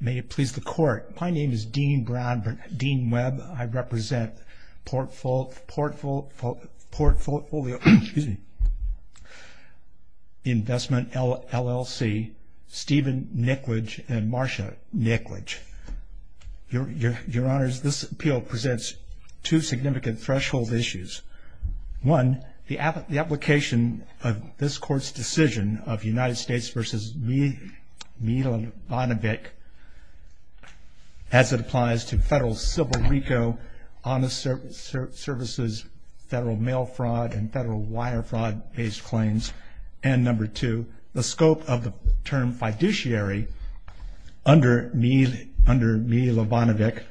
May it please the Court. My name is Dean Webb. I represent Portfolio Investment, LLC, Stephen Nickledge and Marsha Nickledge. Your Honors, this appeal presents two significant threshold issues. One, the application of this Court's decision of United States v. Milibandvic as it applies to federal civil RICO, honest services, federal mail fraud, and federal wire fraud based claims. And number two, the scope of the term fiduciary under Milibandvic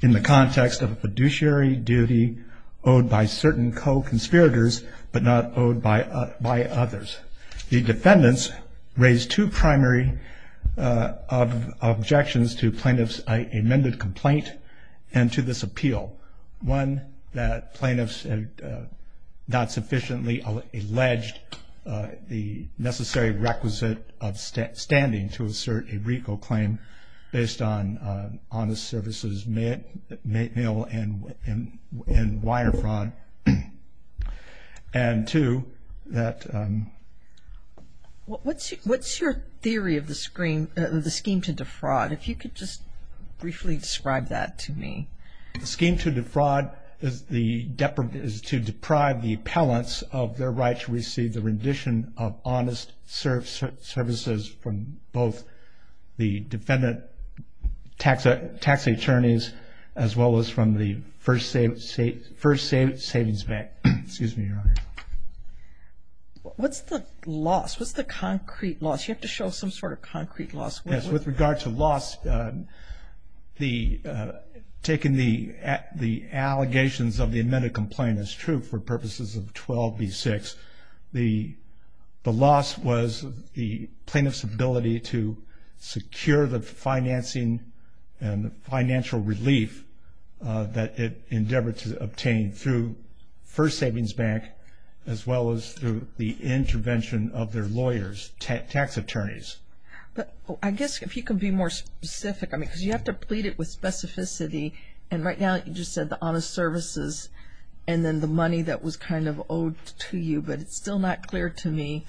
in the context of a fiduciary duty owed by certain co-conspirators but not owed by others. The defendants raised two primary objections to plaintiff's amended complaint and to this appeal. One, that plaintiffs have not sufficiently alleged the necessary requisite of standing to assert a RICO claim based on honest services, mail and wire fraud. And two, that... What's your theory of the scheme to defraud? If you could just briefly describe that to me. The scheme to defraud is to deprive the appellants of their right to receive the rendition of honest services from both the defendant tax attorneys as well as from the First Savings Bank. Excuse me, Your Honor. What's the loss? What's the concrete loss? You have to show some sort of concrete loss. With regard to loss, taking the allegations of the amended complaint as true for purposes of 12B6, the loss was the plaintiff's ability to secure the financing and financial relief that it endeavored to obtain through First Savings Bank as well as through the intervention of their lawyers, tax attorneys. I guess if you can be more specific, because you have to plead it with specificity, and right now you just said the honest services and then the money that was kind of owed to you, but it's still not clear to me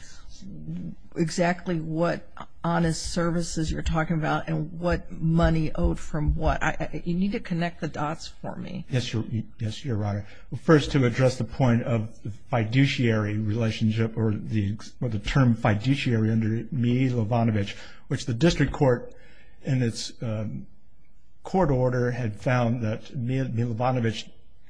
exactly what honest services you're talking about and what money owed from what. You need to connect the dots for me. Yes, Your Honor. First, to address the point of fiduciary relationship or the term fiduciary under Mee-Levanovich, which the district court in its court order had found that Mee-Levanovich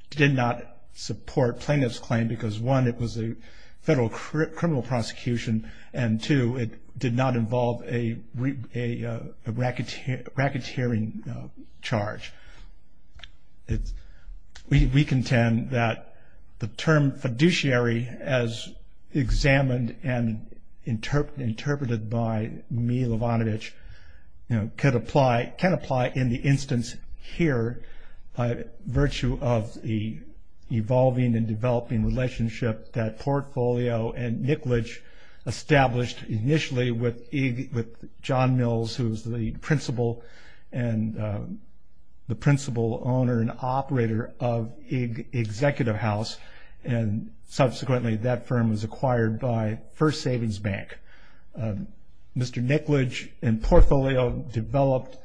did not support plaintiff's claim because one, it was a federal criminal prosecution, and two, it did not involve a racketeering charge. We contend that the term fiduciary, as examined and interpreted by Mee-Levanovich, can apply in the instance here by virtue of the evolving and developing relationship that Portfolio and Nicklage established initially with John Mills, who was the principal owner and operator of Executive House, and subsequently that firm was acquired by First Savings Bank. Mr. Nicklage and Portfolio developed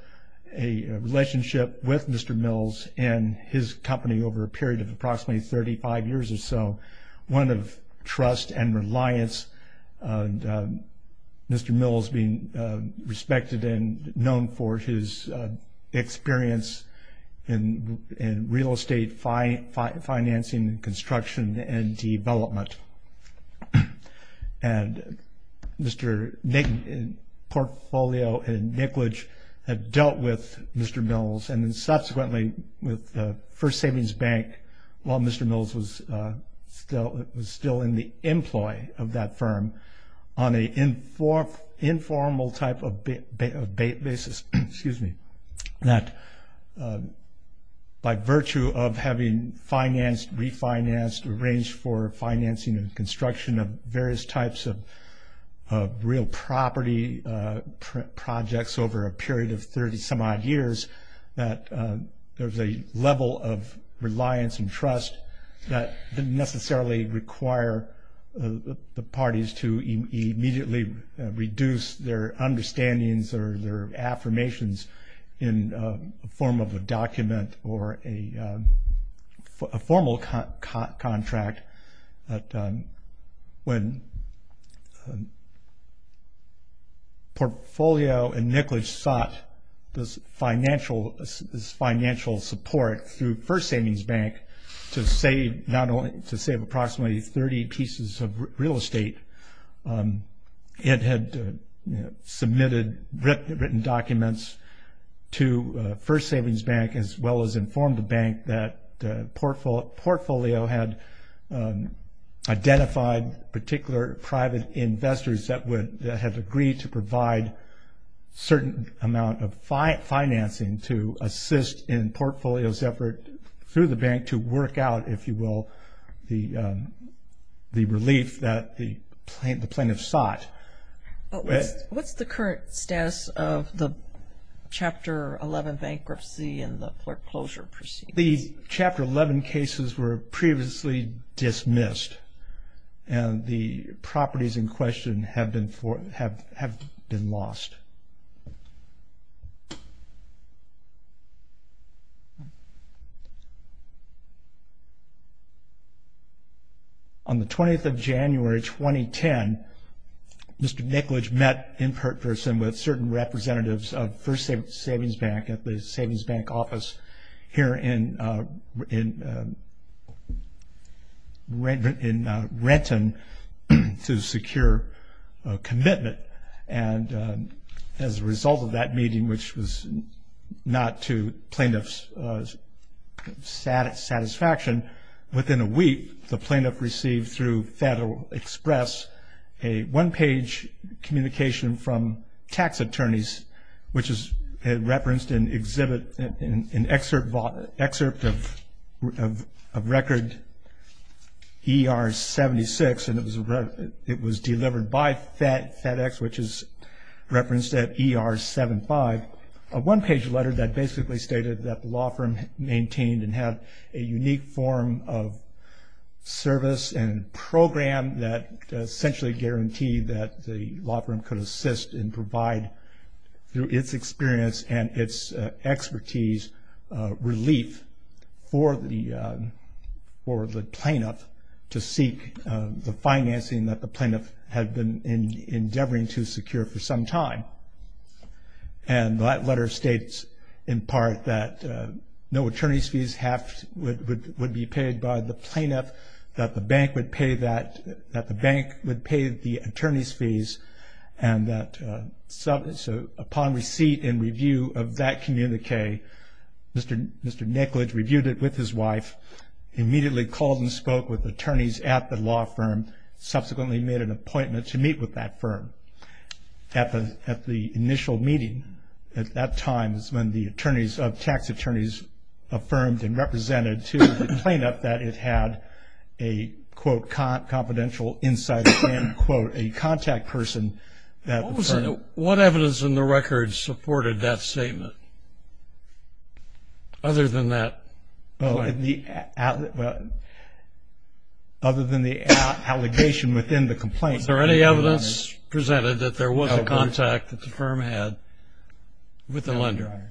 a relationship with Mr. Mills and his company over a period of approximately 35 years or so, one of trust and reliance, and Mr. Mills being respected and known for his experience in real estate financing, construction, and development. And Mr. Nick, Portfolio, and Nicklage have dealt with Mr. Mills and then subsequently with First Savings Bank while Mr. Mills was still in the employ of that firm on an informal type of basis, excuse me, that by virtue of having financed, refinanced, arranged for financing and construction of various types of real property projects over a period of 30 some odd years, that there was a level of reliance and trust that didn't necessarily require the parties to immediately reduce their understandings or their affirmations in a form of a document or a formal kind of document. But when Portfolio and Nicklage sought this financial support through First Savings Bank to save not only, to save approximately 30 pieces of real estate, it had submitted written documents to First Savings Bank as well as informed the bank that Portfolio had identified particular private investors that had agreed to provide certain amount of financing to assist in Portfolio's effort through the bank to work out, if you will, the relief that the plaintiff sought. What's the current status of the Chapter 11 bankruptcy and the foreclosure proceedings? The Chapter 11 cases were previously dismissed and the properties in question have been lost. On the 20th of January, 2010, Mr. Nicklage met in person with certain representatives of First Savings Bank at the Savings Bank office here in Renton to secure a commitment. And as a result of that meeting, which was not to plaintiff's satisfaction, within a week, the plaintiff received through Federal Express a one-page communication from tax attorneys, which is referenced in an excerpt of Record ER-76, and it was delivered by FedEx, which is referenced at ER-75, a one-page letter that basically stated that the law firm maintained and had a unique form of service and program that essentially guaranteed that the law firm could assist and provide, through its experience and its expertise, relief for the plaintiff to seek the financing that the plaintiff had been endeavoring to secure for some time. And that letter states, in part, that no attorney's fees would be paid by the plaintiff, that the bank would pay the attorney's fees, and that upon receipt and review of that communique, Mr. Nicklage reviewed it with his wife, immediately called and spoke with attorneys at the law firm, subsequently made an appointment to meet with that firm. At the initial meeting at that time is when the attorneys of tax attorneys affirmed and represented to the plaintiff that it had a, quote, confidential insight and, quote, a contact person that the firm Now, what evidence in the record supported that statement, other than that? Other than the allegation within the complaint. Was there any evidence presented that there was a contact that the firm had with the lender?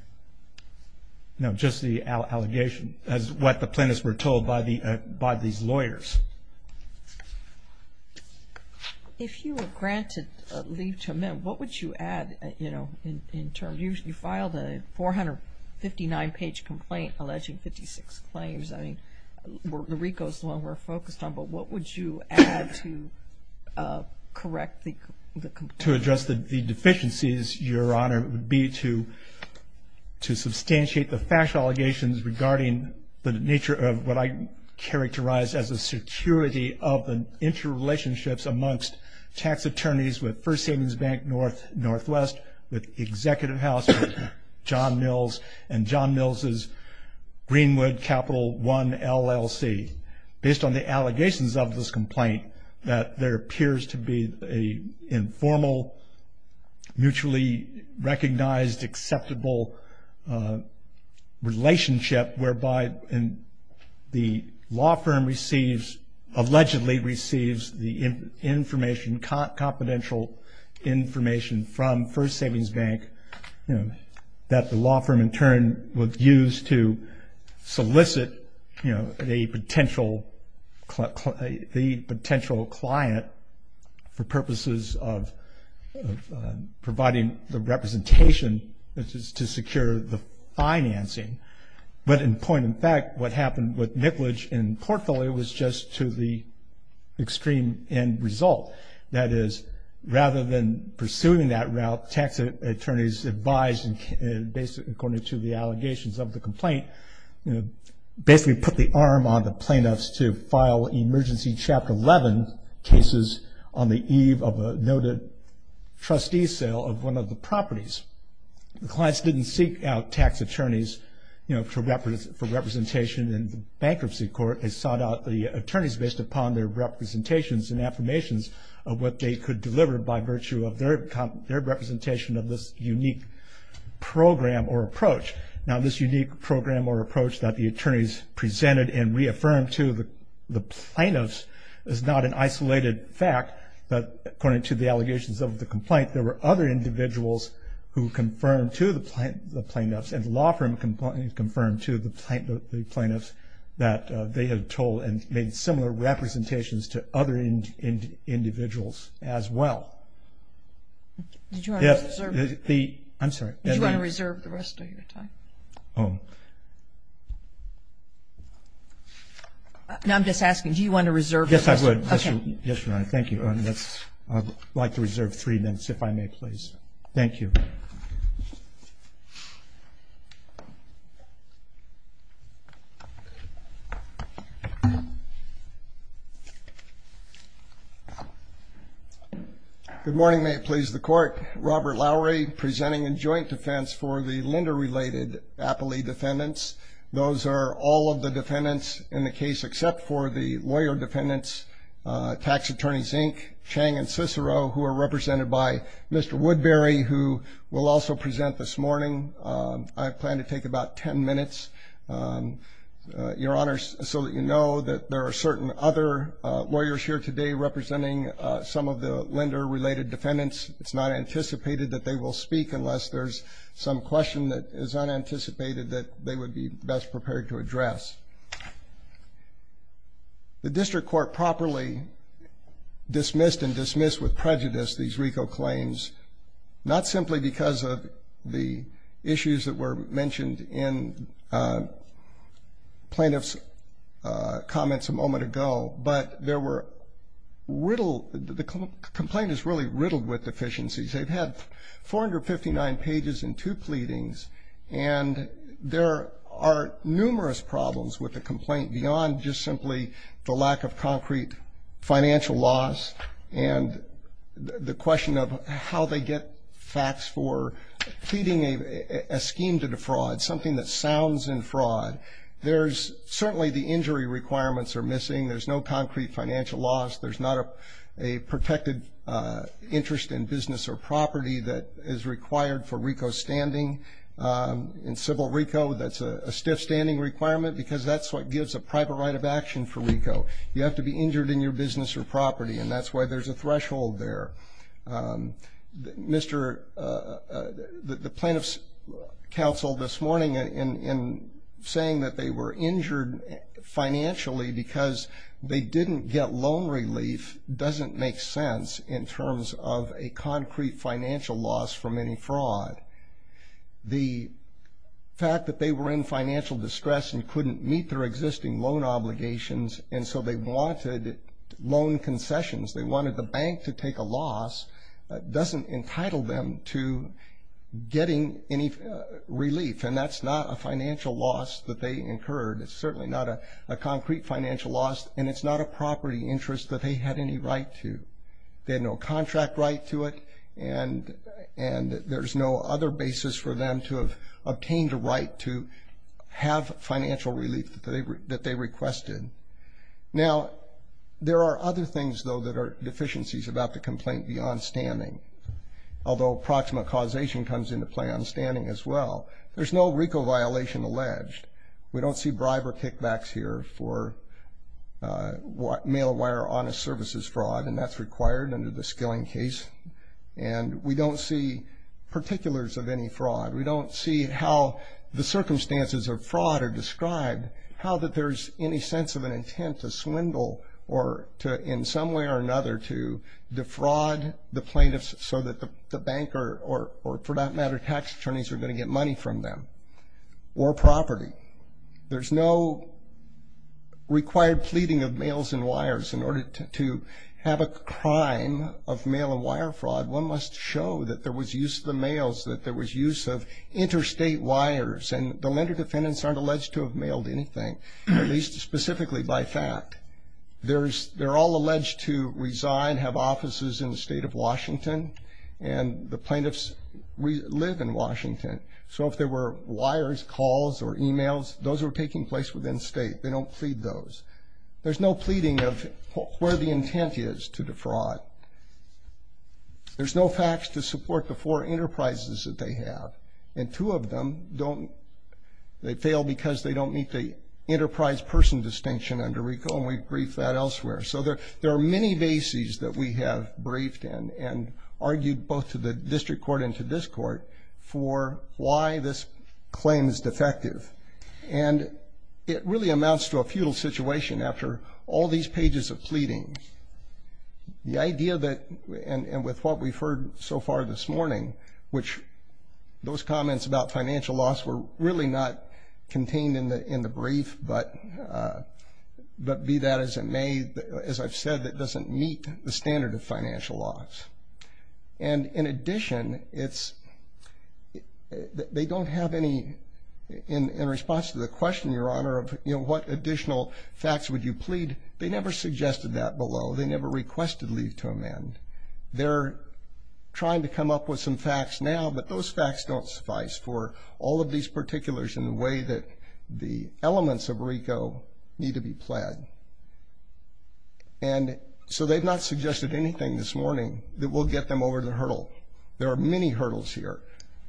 No, just the allegation, as what the plaintiffs were told by these lawyers. If you were granted leave to amend, what would you add, you know, in terms? You filed a 459-page complaint alleging 56 claims. I mean, the RICO's the one we're focused on, but what would you add to correct the complaint? To address the deficiencies, Your Honor, would be to substantiate the factual allegations regarding the nature of what I characterize as a security of the interrelationships amongst tax attorneys with First Savings Bank Northwest, with Executive House, with John Mills, and John Mills' Greenwood Capital One LLC. Based on the allegations of this complaint, that there appears to be an informal, mutually recognized, acceptable relationship whereby the law firm receives, allegedly receives, the information, confidential information from First Savings Bank. That the law firm, in turn, would use to solicit a potential client for purposes of providing the representation to secure the financing. But in point and fact, what happened with Nicolage and Portfolio was just to the extreme end result. That is, rather than pursuing that route, tax attorneys advised, according to the allegations of the complaint, basically put the arm on the plaintiffs to file Emergency Chapter 11 cases on the eve of a noted trustee sale of one of the properties. The clients didn't seek out tax attorneys for representation in the bankruptcy court. They sought out the attorneys based upon their representations and affirmations of what they could deliver by virtue of their representation of this unique program or approach. Now, this unique program or approach that the attorneys presented and reaffirmed to the plaintiffs is not an isolated fact. But according to the allegations of the complaint, there were other individuals who confirmed to the plaintiffs and the law firm confirmed to the plaintiffs that they had told and made similar representations to other individuals as well. Yes. I'm sorry. Do you want to reserve the rest of your time? Oh. Now, I'm just asking, do you want to reserve the rest of your time? Yes, I would. Yes, Your Honor. Thank you. I'd like to reserve three minutes, if I may, please. Thank you. Good morning. May it please the Court. Robert Lowery presenting in joint defense for the lender-related Appley defendants. Those are all of the defendants in the case except for the lawyer defendants, Tax Attorneys Inc., Chang and Cicero, who are represented by Mr. Woodbury, who will also present this morning. I plan to take about ten minutes, Your Honor, so that you know that there are certain other lawyers here today representing some of the lender-related defendants. It's not anticipated that they will speak unless there's some question that is unanticipated that they would be best prepared to address. The district court properly dismissed and dismissed with prejudice these RICO claims, not simply because of the issues that were mentioned in plaintiff's comments a moment ago, but there were riddled, the complainants really riddled with deficiencies. They've had 459 pages and two pleadings, and there are numerous problems with the complaint beyond just simply the lack of concrete financial loss and the question of how they get facts for pleading a scheme to defraud, something that sounds in fraud. There's certainly the injury requirements are missing. There's no concrete financial loss. There's not a protected interest in business or property that is required for RICO standing. In civil RICO, that's a stiff standing requirement because that's what gives a private right of action for RICO. You have to be injured in your business or property, and that's why there's a threshold there. Mr. the plaintiff's counsel this morning in saying that they were injured financially because they didn't get loan relief doesn't make sense in terms of a concrete financial loss from any fraud. The fact that they were in financial distress and couldn't meet their existing loan obligations, and so they wanted loan concessions, they wanted the bank to take a loss, doesn't entitle them to getting any relief, and that's not a financial loss that they incurred. It's certainly not a concrete financial loss, and it's not a property interest that they had any right to. They had no contract right to it, and there's no other basis for them to have obtained a right to have financial relief that they requested. Now, there are other things, though, that are deficiencies about the complaint beyond standing, although proximate causation comes into play on standing as well. There's no RICO violation alleged. We don't see briber kickbacks here for mail-of-wire honest services fraud, and that's required under the Skilling case, and we don't see particulars of any fraud. We don't see how the circumstances of fraud are described, how that there's any sense of an intent to swindle or to in some way or another to defraud the plaintiffs so that the bank or, for that matter, tax attorneys are going to get money from them or property. There's no required pleading of mails and wires in order to have a crime of mail-of-wire fraud. One must show that there was use of the mails, that there was use of interstate wires, and the lender defendants aren't alleged to have mailed anything, at least specifically by fact. They're all alleged to resign, have offices in the state of Washington, and the plaintiffs live in Washington. So if there were wires, calls, or e-mails, those are taking place within state. They don't plead those. There's no pleading of where the intent is to defraud. There's no facts to support the four enterprises that they have, and two of them don't. They fail because they don't meet the enterprise person distinction under RICO, and we've briefed that elsewhere. So there are many bases that we have briefed in and argued both to the district court and to this court for why this claim is defective. And it really amounts to a futile situation after all these pages of pleading. The idea that, and with what we've heard so far this morning, which those comments about financial loss were really not contained in the brief, but be that as it may, as I've said, it doesn't meet the standard of financial loss. And in addition, they don't have any, in response to the question, Your Honor, of what additional facts would you plead, they never suggested that below. They never requested leave to amend. They're trying to come up with some facts now, but those facts don't suffice for all of these particulars in the way that the elements of RICO need to be pled. And so they've not suggested anything this morning that will get them over the hurdle. There are many hurdles here.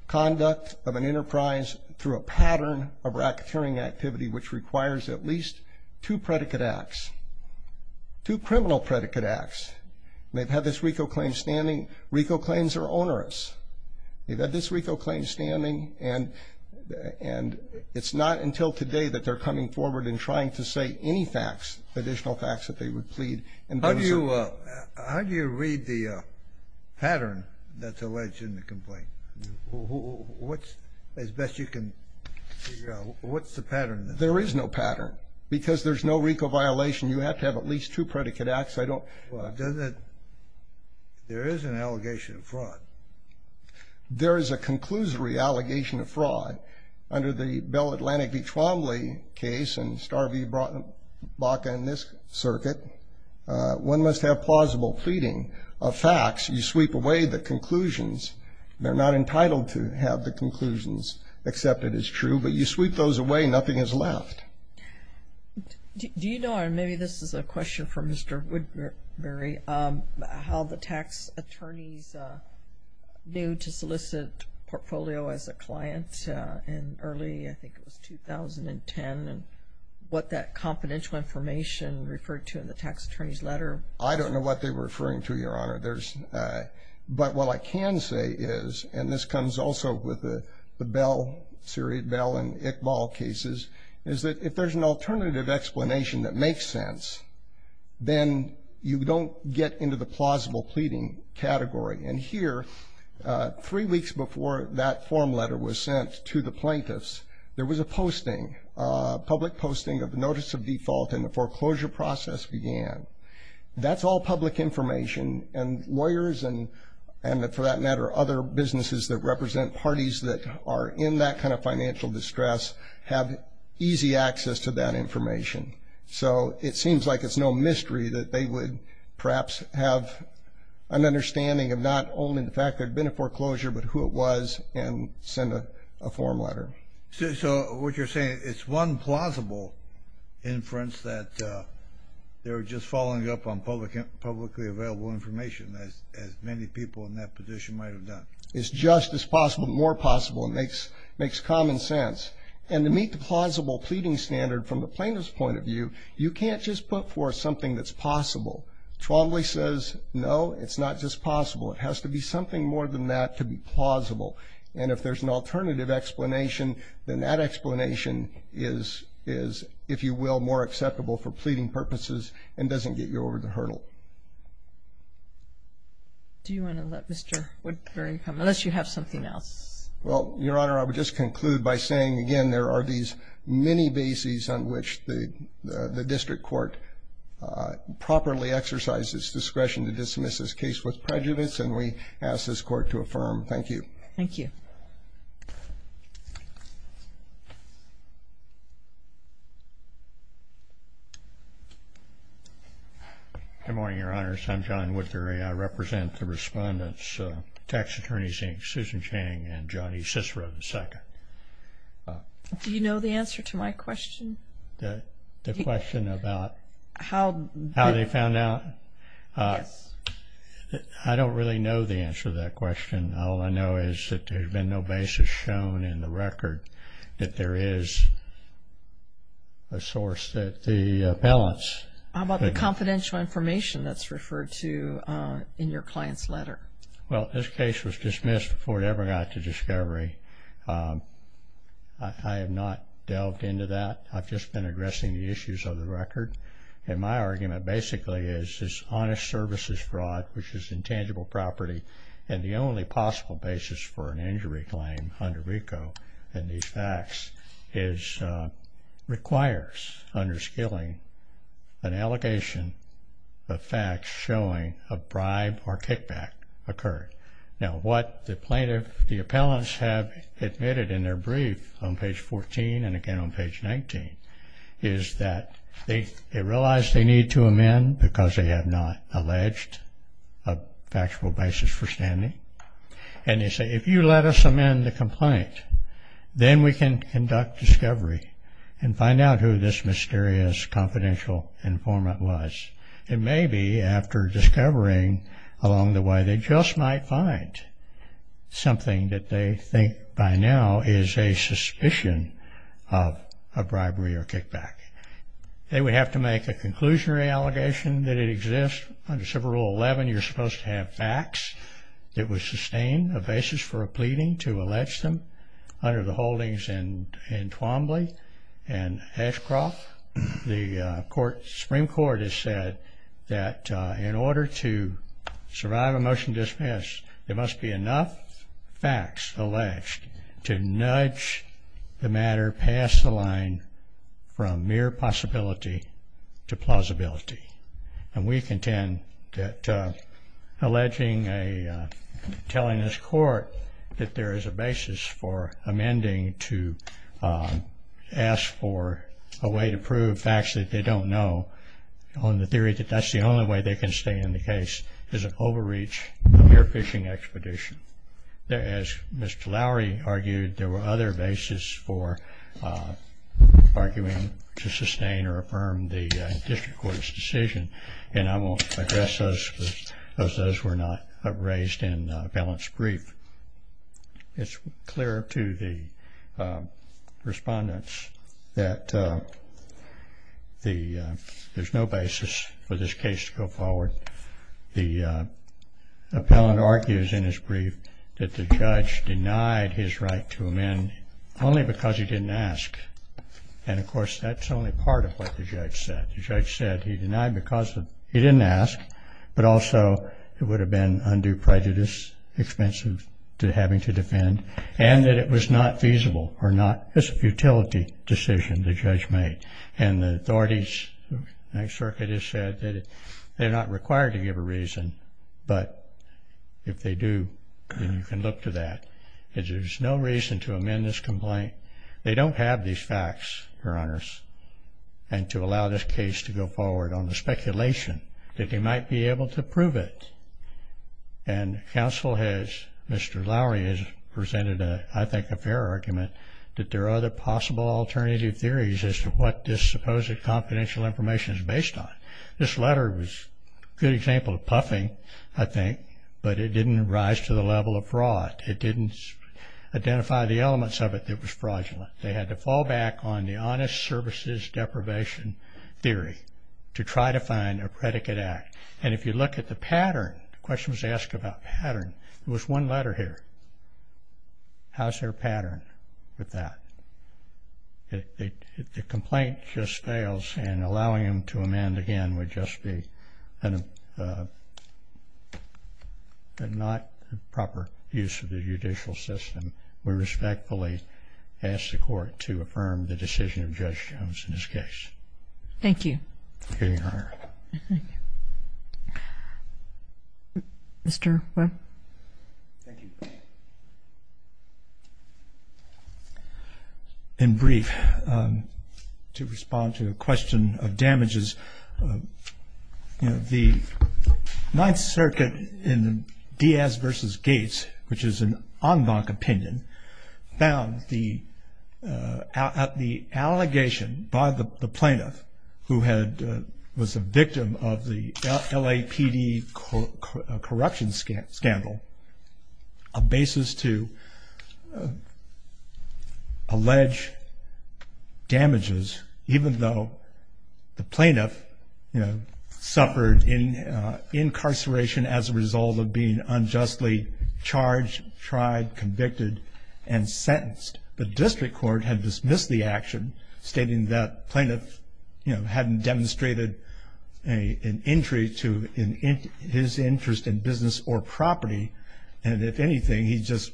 Conduct of an enterprise through a pattern of racketeering activity, which requires at least two predicate acts, two criminal predicate acts. They've had this RICO claim standing. RICO claims are onerous. They've had this RICO claim standing, and it's not until today that they're coming forward and trying to say any facts, additional facts that they would plead. How do you read the pattern that's alleged in the complaint? As best you can figure out, what's the pattern? There is no pattern, because there's no RICO violation. You have to have at least two predicate acts. There is an allegation of fraud. There is a conclusory allegation of fraud. Under the Bell Atlantic v. Trombley case and Star v. Baca in this circuit, one must have plausible pleading of facts. You sweep away the conclusions. They're not entitled to have the conclusions accepted as true, but you sweep those away. Nothing is left. Do you know, and maybe this is a question for Mr. Woodbury, how the tax attorneys knew to solicit portfolio as a client in early, I think it was 2010, and what that confidential information referred to in the tax attorney's letter? I don't know what they were referring to, Your Honor. But what I can say is, and this comes also with the Bell, Sirriot-Bell and Iqbal cases, is that if there's an alternative explanation that makes sense, then you don't get into the plausible pleading category. And here, three weeks before that form letter was sent to the plaintiffs, there was a posting, a public posting of notice of default, and the foreclosure process began. That's all public information, and lawyers and, for that matter, other businesses that represent parties that are in that kind of financial distress have easy access to that information. So it seems like it's no mystery that they would perhaps have an understanding of not only the fact there had been a foreclosure, but who it was, and send a form letter. So what you're saying, it's one plausible inference that they were just following up on publicly available information, as many people in that position might have done. It's just as possible, more possible. It makes common sense. And to meet the plausible pleading standard from the plaintiff's point of view, you can't just put forth something that's possible. Trombley says, no, it's not just possible. It has to be something more than that to be plausible. And if there's an alternative explanation, then that explanation is, if you will, more acceptable for pleading purposes and doesn't get you over the hurdle. Do you want to let Mr. Woodburn come? Unless you have something else. Well, Your Honor, I would just conclude by saying, again, there are these many bases on which the district court properly exercises discretion to dismiss this case with prejudice, and we ask this court to affirm. Thank you. Thank you. Good morning, Your Honors. I'm John Woodbury. I represent the respondents, Tax Attorneys Inc., Susan Chang and Johnny Cicero II. Do you know the answer to my question? The question about how they found out? Yes. I don't really know the answer to that question. All I know is that there's been no basis shown in the record that there is a source that the appellants. How about the confidential information that's referred to in your client's letter? Well, this case was dismissed before it ever got to discovery. I have not delved into that. I've just been addressing the issues of the record. And my argument basically is this honest services fraud, which is intangible property, and the only possible basis for an injury claim under RICO in these facts, requires under Skilling an allegation of facts showing a bribe or kickback occurred. Now, what the plaintiff, the appellants, have admitted in their brief on page 14 and again on page 19 is that they realize they need to amend because they have not alleged a factual basis for standing. And they say, if you let us amend the complaint, then we can conduct discovery and find out who this mysterious confidential informant was. And maybe after discovering along the way, they just might find something that they think by now is a suspicion of a bribery or kickback. They would have to make a conclusionary allegation that it exists. Under Civil Rule 11, you're supposed to have facts that would sustain a basis for a pleading to allege them under the holdings in Twombly and Ashcroft. The Supreme Court has said that in order to survive a motion to dismiss, there must be enough facts alleged to nudge the matter past the line from mere possibility to plausibility. And we contend that alleging, telling this court that there is a basis for amending to ask for a way to prove facts that they don't know on the theory that that's the only way they can stay in the case is an overreach of their fishing expedition. As Mr. Lowery argued, there were other bases for arguing to sustain or affirm the district court's decision. And I won't address those because those were not raised in the appellant's brief. It's clear to the respondents that there's no basis for this case to go forward. The appellant argues in his brief that the judge denied his right to amend only because he didn't ask. And, of course, that's only part of what the judge said. He denied because he didn't ask, but also it would have been undue prejudice, expensive to having to defend, and that it was not feasible or not as a futility decision the judge made. And the authorities in the circuit have said that they're not required to give a reason, but if they do, then you can look to that. There's no reason to amend this complaint. They don't have these facts, Your Honors, and to allow this case to go forward on the speculation that they might be able to prove it. And counsel has, Mr. Lowery has presented, I think, a fair argument that there are other possible alternative theories as to what this supposed confidential information is based on. This letter was a good example of puffing, I think, but it didn't rise to the level of fraud. It didn't identify the elements of it that was fraudulent. They had to fall back on the honest services deprivation theory to try to find a predicate act. And if you look at the pattern, the question was asked about pattern. There was one letter here. How's their pattern with that? If the complaint just fails and allowing them to amend again would just be not proper use of the judicial system, we respectfully ask the court to affirm the decision of Judge Jones in this case. Thank you. Thank you, Your Honor. Mr. Webb. Thank you. In brief, to respond to a question of damages, you know, the Ninth Circuit in Diaz v. Gates, which is an en banc opinion, found the allegation by the plaintiff, who was a victim of the LAPD corruption scandal, a basis to allege damages even though the plaintiff, you know, suffered incarceration as a result of being unjustly charged, tried, convicted, and sentenced. The district court had dismissed the action, stating that plaintiff, you know, hadn't demonstrated an injury to his interest in business or property. And if anything, he just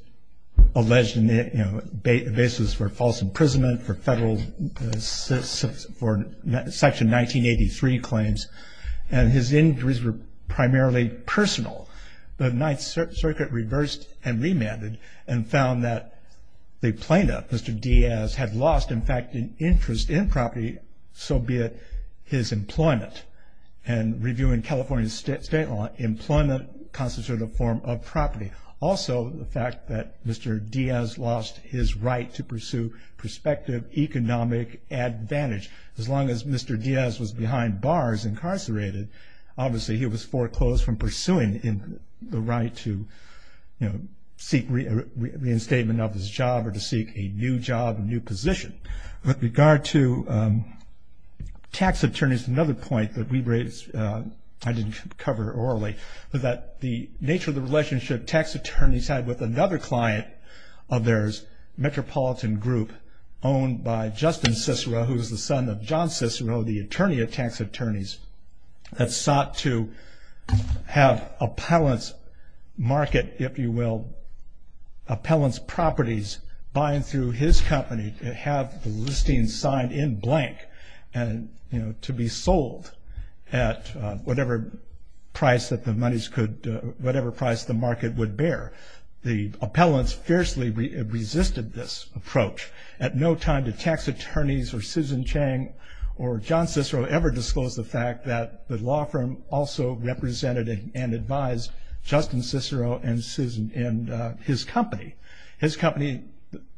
alleged a basis for false imprisonment for federal section 1983 claims. And his injuries were primarily personal. The Ninth Circuit reversed and remanded and found that the plaintiff, Mr. Diaz, had lost, in fact, an interest in property, so be it his employment. And reviewing California state law, employment constitutes a form of property. Also, the fact that Mr. Diaz lost his right to pursue prospective economic advantage. As long as Mr. Diaz was behind bars, incarcerated, obviously he was foreclosed from pursuing the right to, you know, seek reinstatement of his job or to seek a new job, a new position. With regard to tax attorneys, another point that we raised, I didn't cover it orally, but that the nature of the relationship tax attorneys had with another client of theirs, Metropolitan Group, owned by Justin Cicero, who is the son of John Cicero, the attorney of tax attorneys, that sought to have appellant's market, if you will, appellant's properties, buying through his company, have the listing signed in blank and, you know, to be sold at whatever price that the monies could, whatever price the market would bear. The appellants fiercely resisted this approach. At no time did tax attorneys or Susan Chang or John Cicero ever disclose the fact that the law firm also represented and advised Justin Cicero and his company. His company,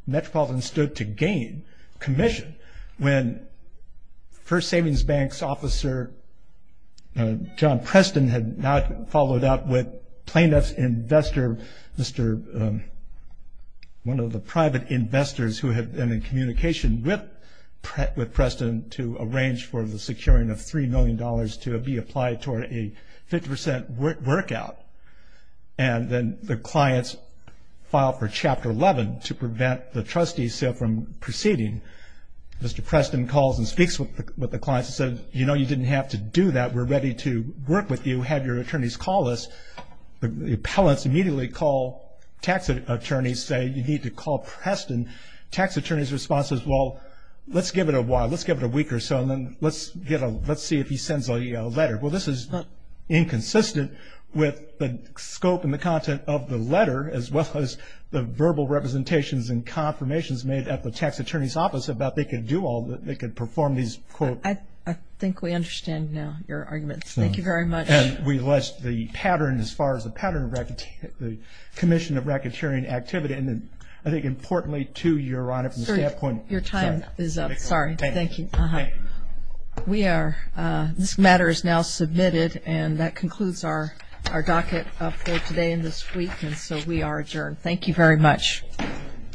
Metropolitan, stood to gain commission. When First Savings Bank's officer, John Preston, had now followed up with plaintiff's investor, Mr. one of the private investors who had been in communication with Preston to arrange for the securing of $3 million to be applied toward a 50% workout, and then the clients filed for Chapter 11 to prevent the trustees from proceeding, Mr. Preston calls and speaks with the clients and said, you know, you didn't have to do that. We're ready to work with you. Have your attorneys call us. The appellants immediately call tax attorneys, say you need to call Preston. Tax attorney's response is, well, let's give it a while. Let's give it a week or so, and then let's see if he sends a letter. Well, this is inconsistent with the scope and the content of the letter as well as the verbal representations and confirmations made at the tax attorney's office about they could do all the – they could perform these, quote. I think we understand now your arguments. Thank you very much. And we list the pattern as far as the pattern of the commission of racketeering activity, and then I think importantly to your honor from the standpoint of – Sir, your time is up. Sorry. Thank you. We are – this matter is now submitted, and that concludes our docket up for today and this week, and so we are adjourned. Thank you very much.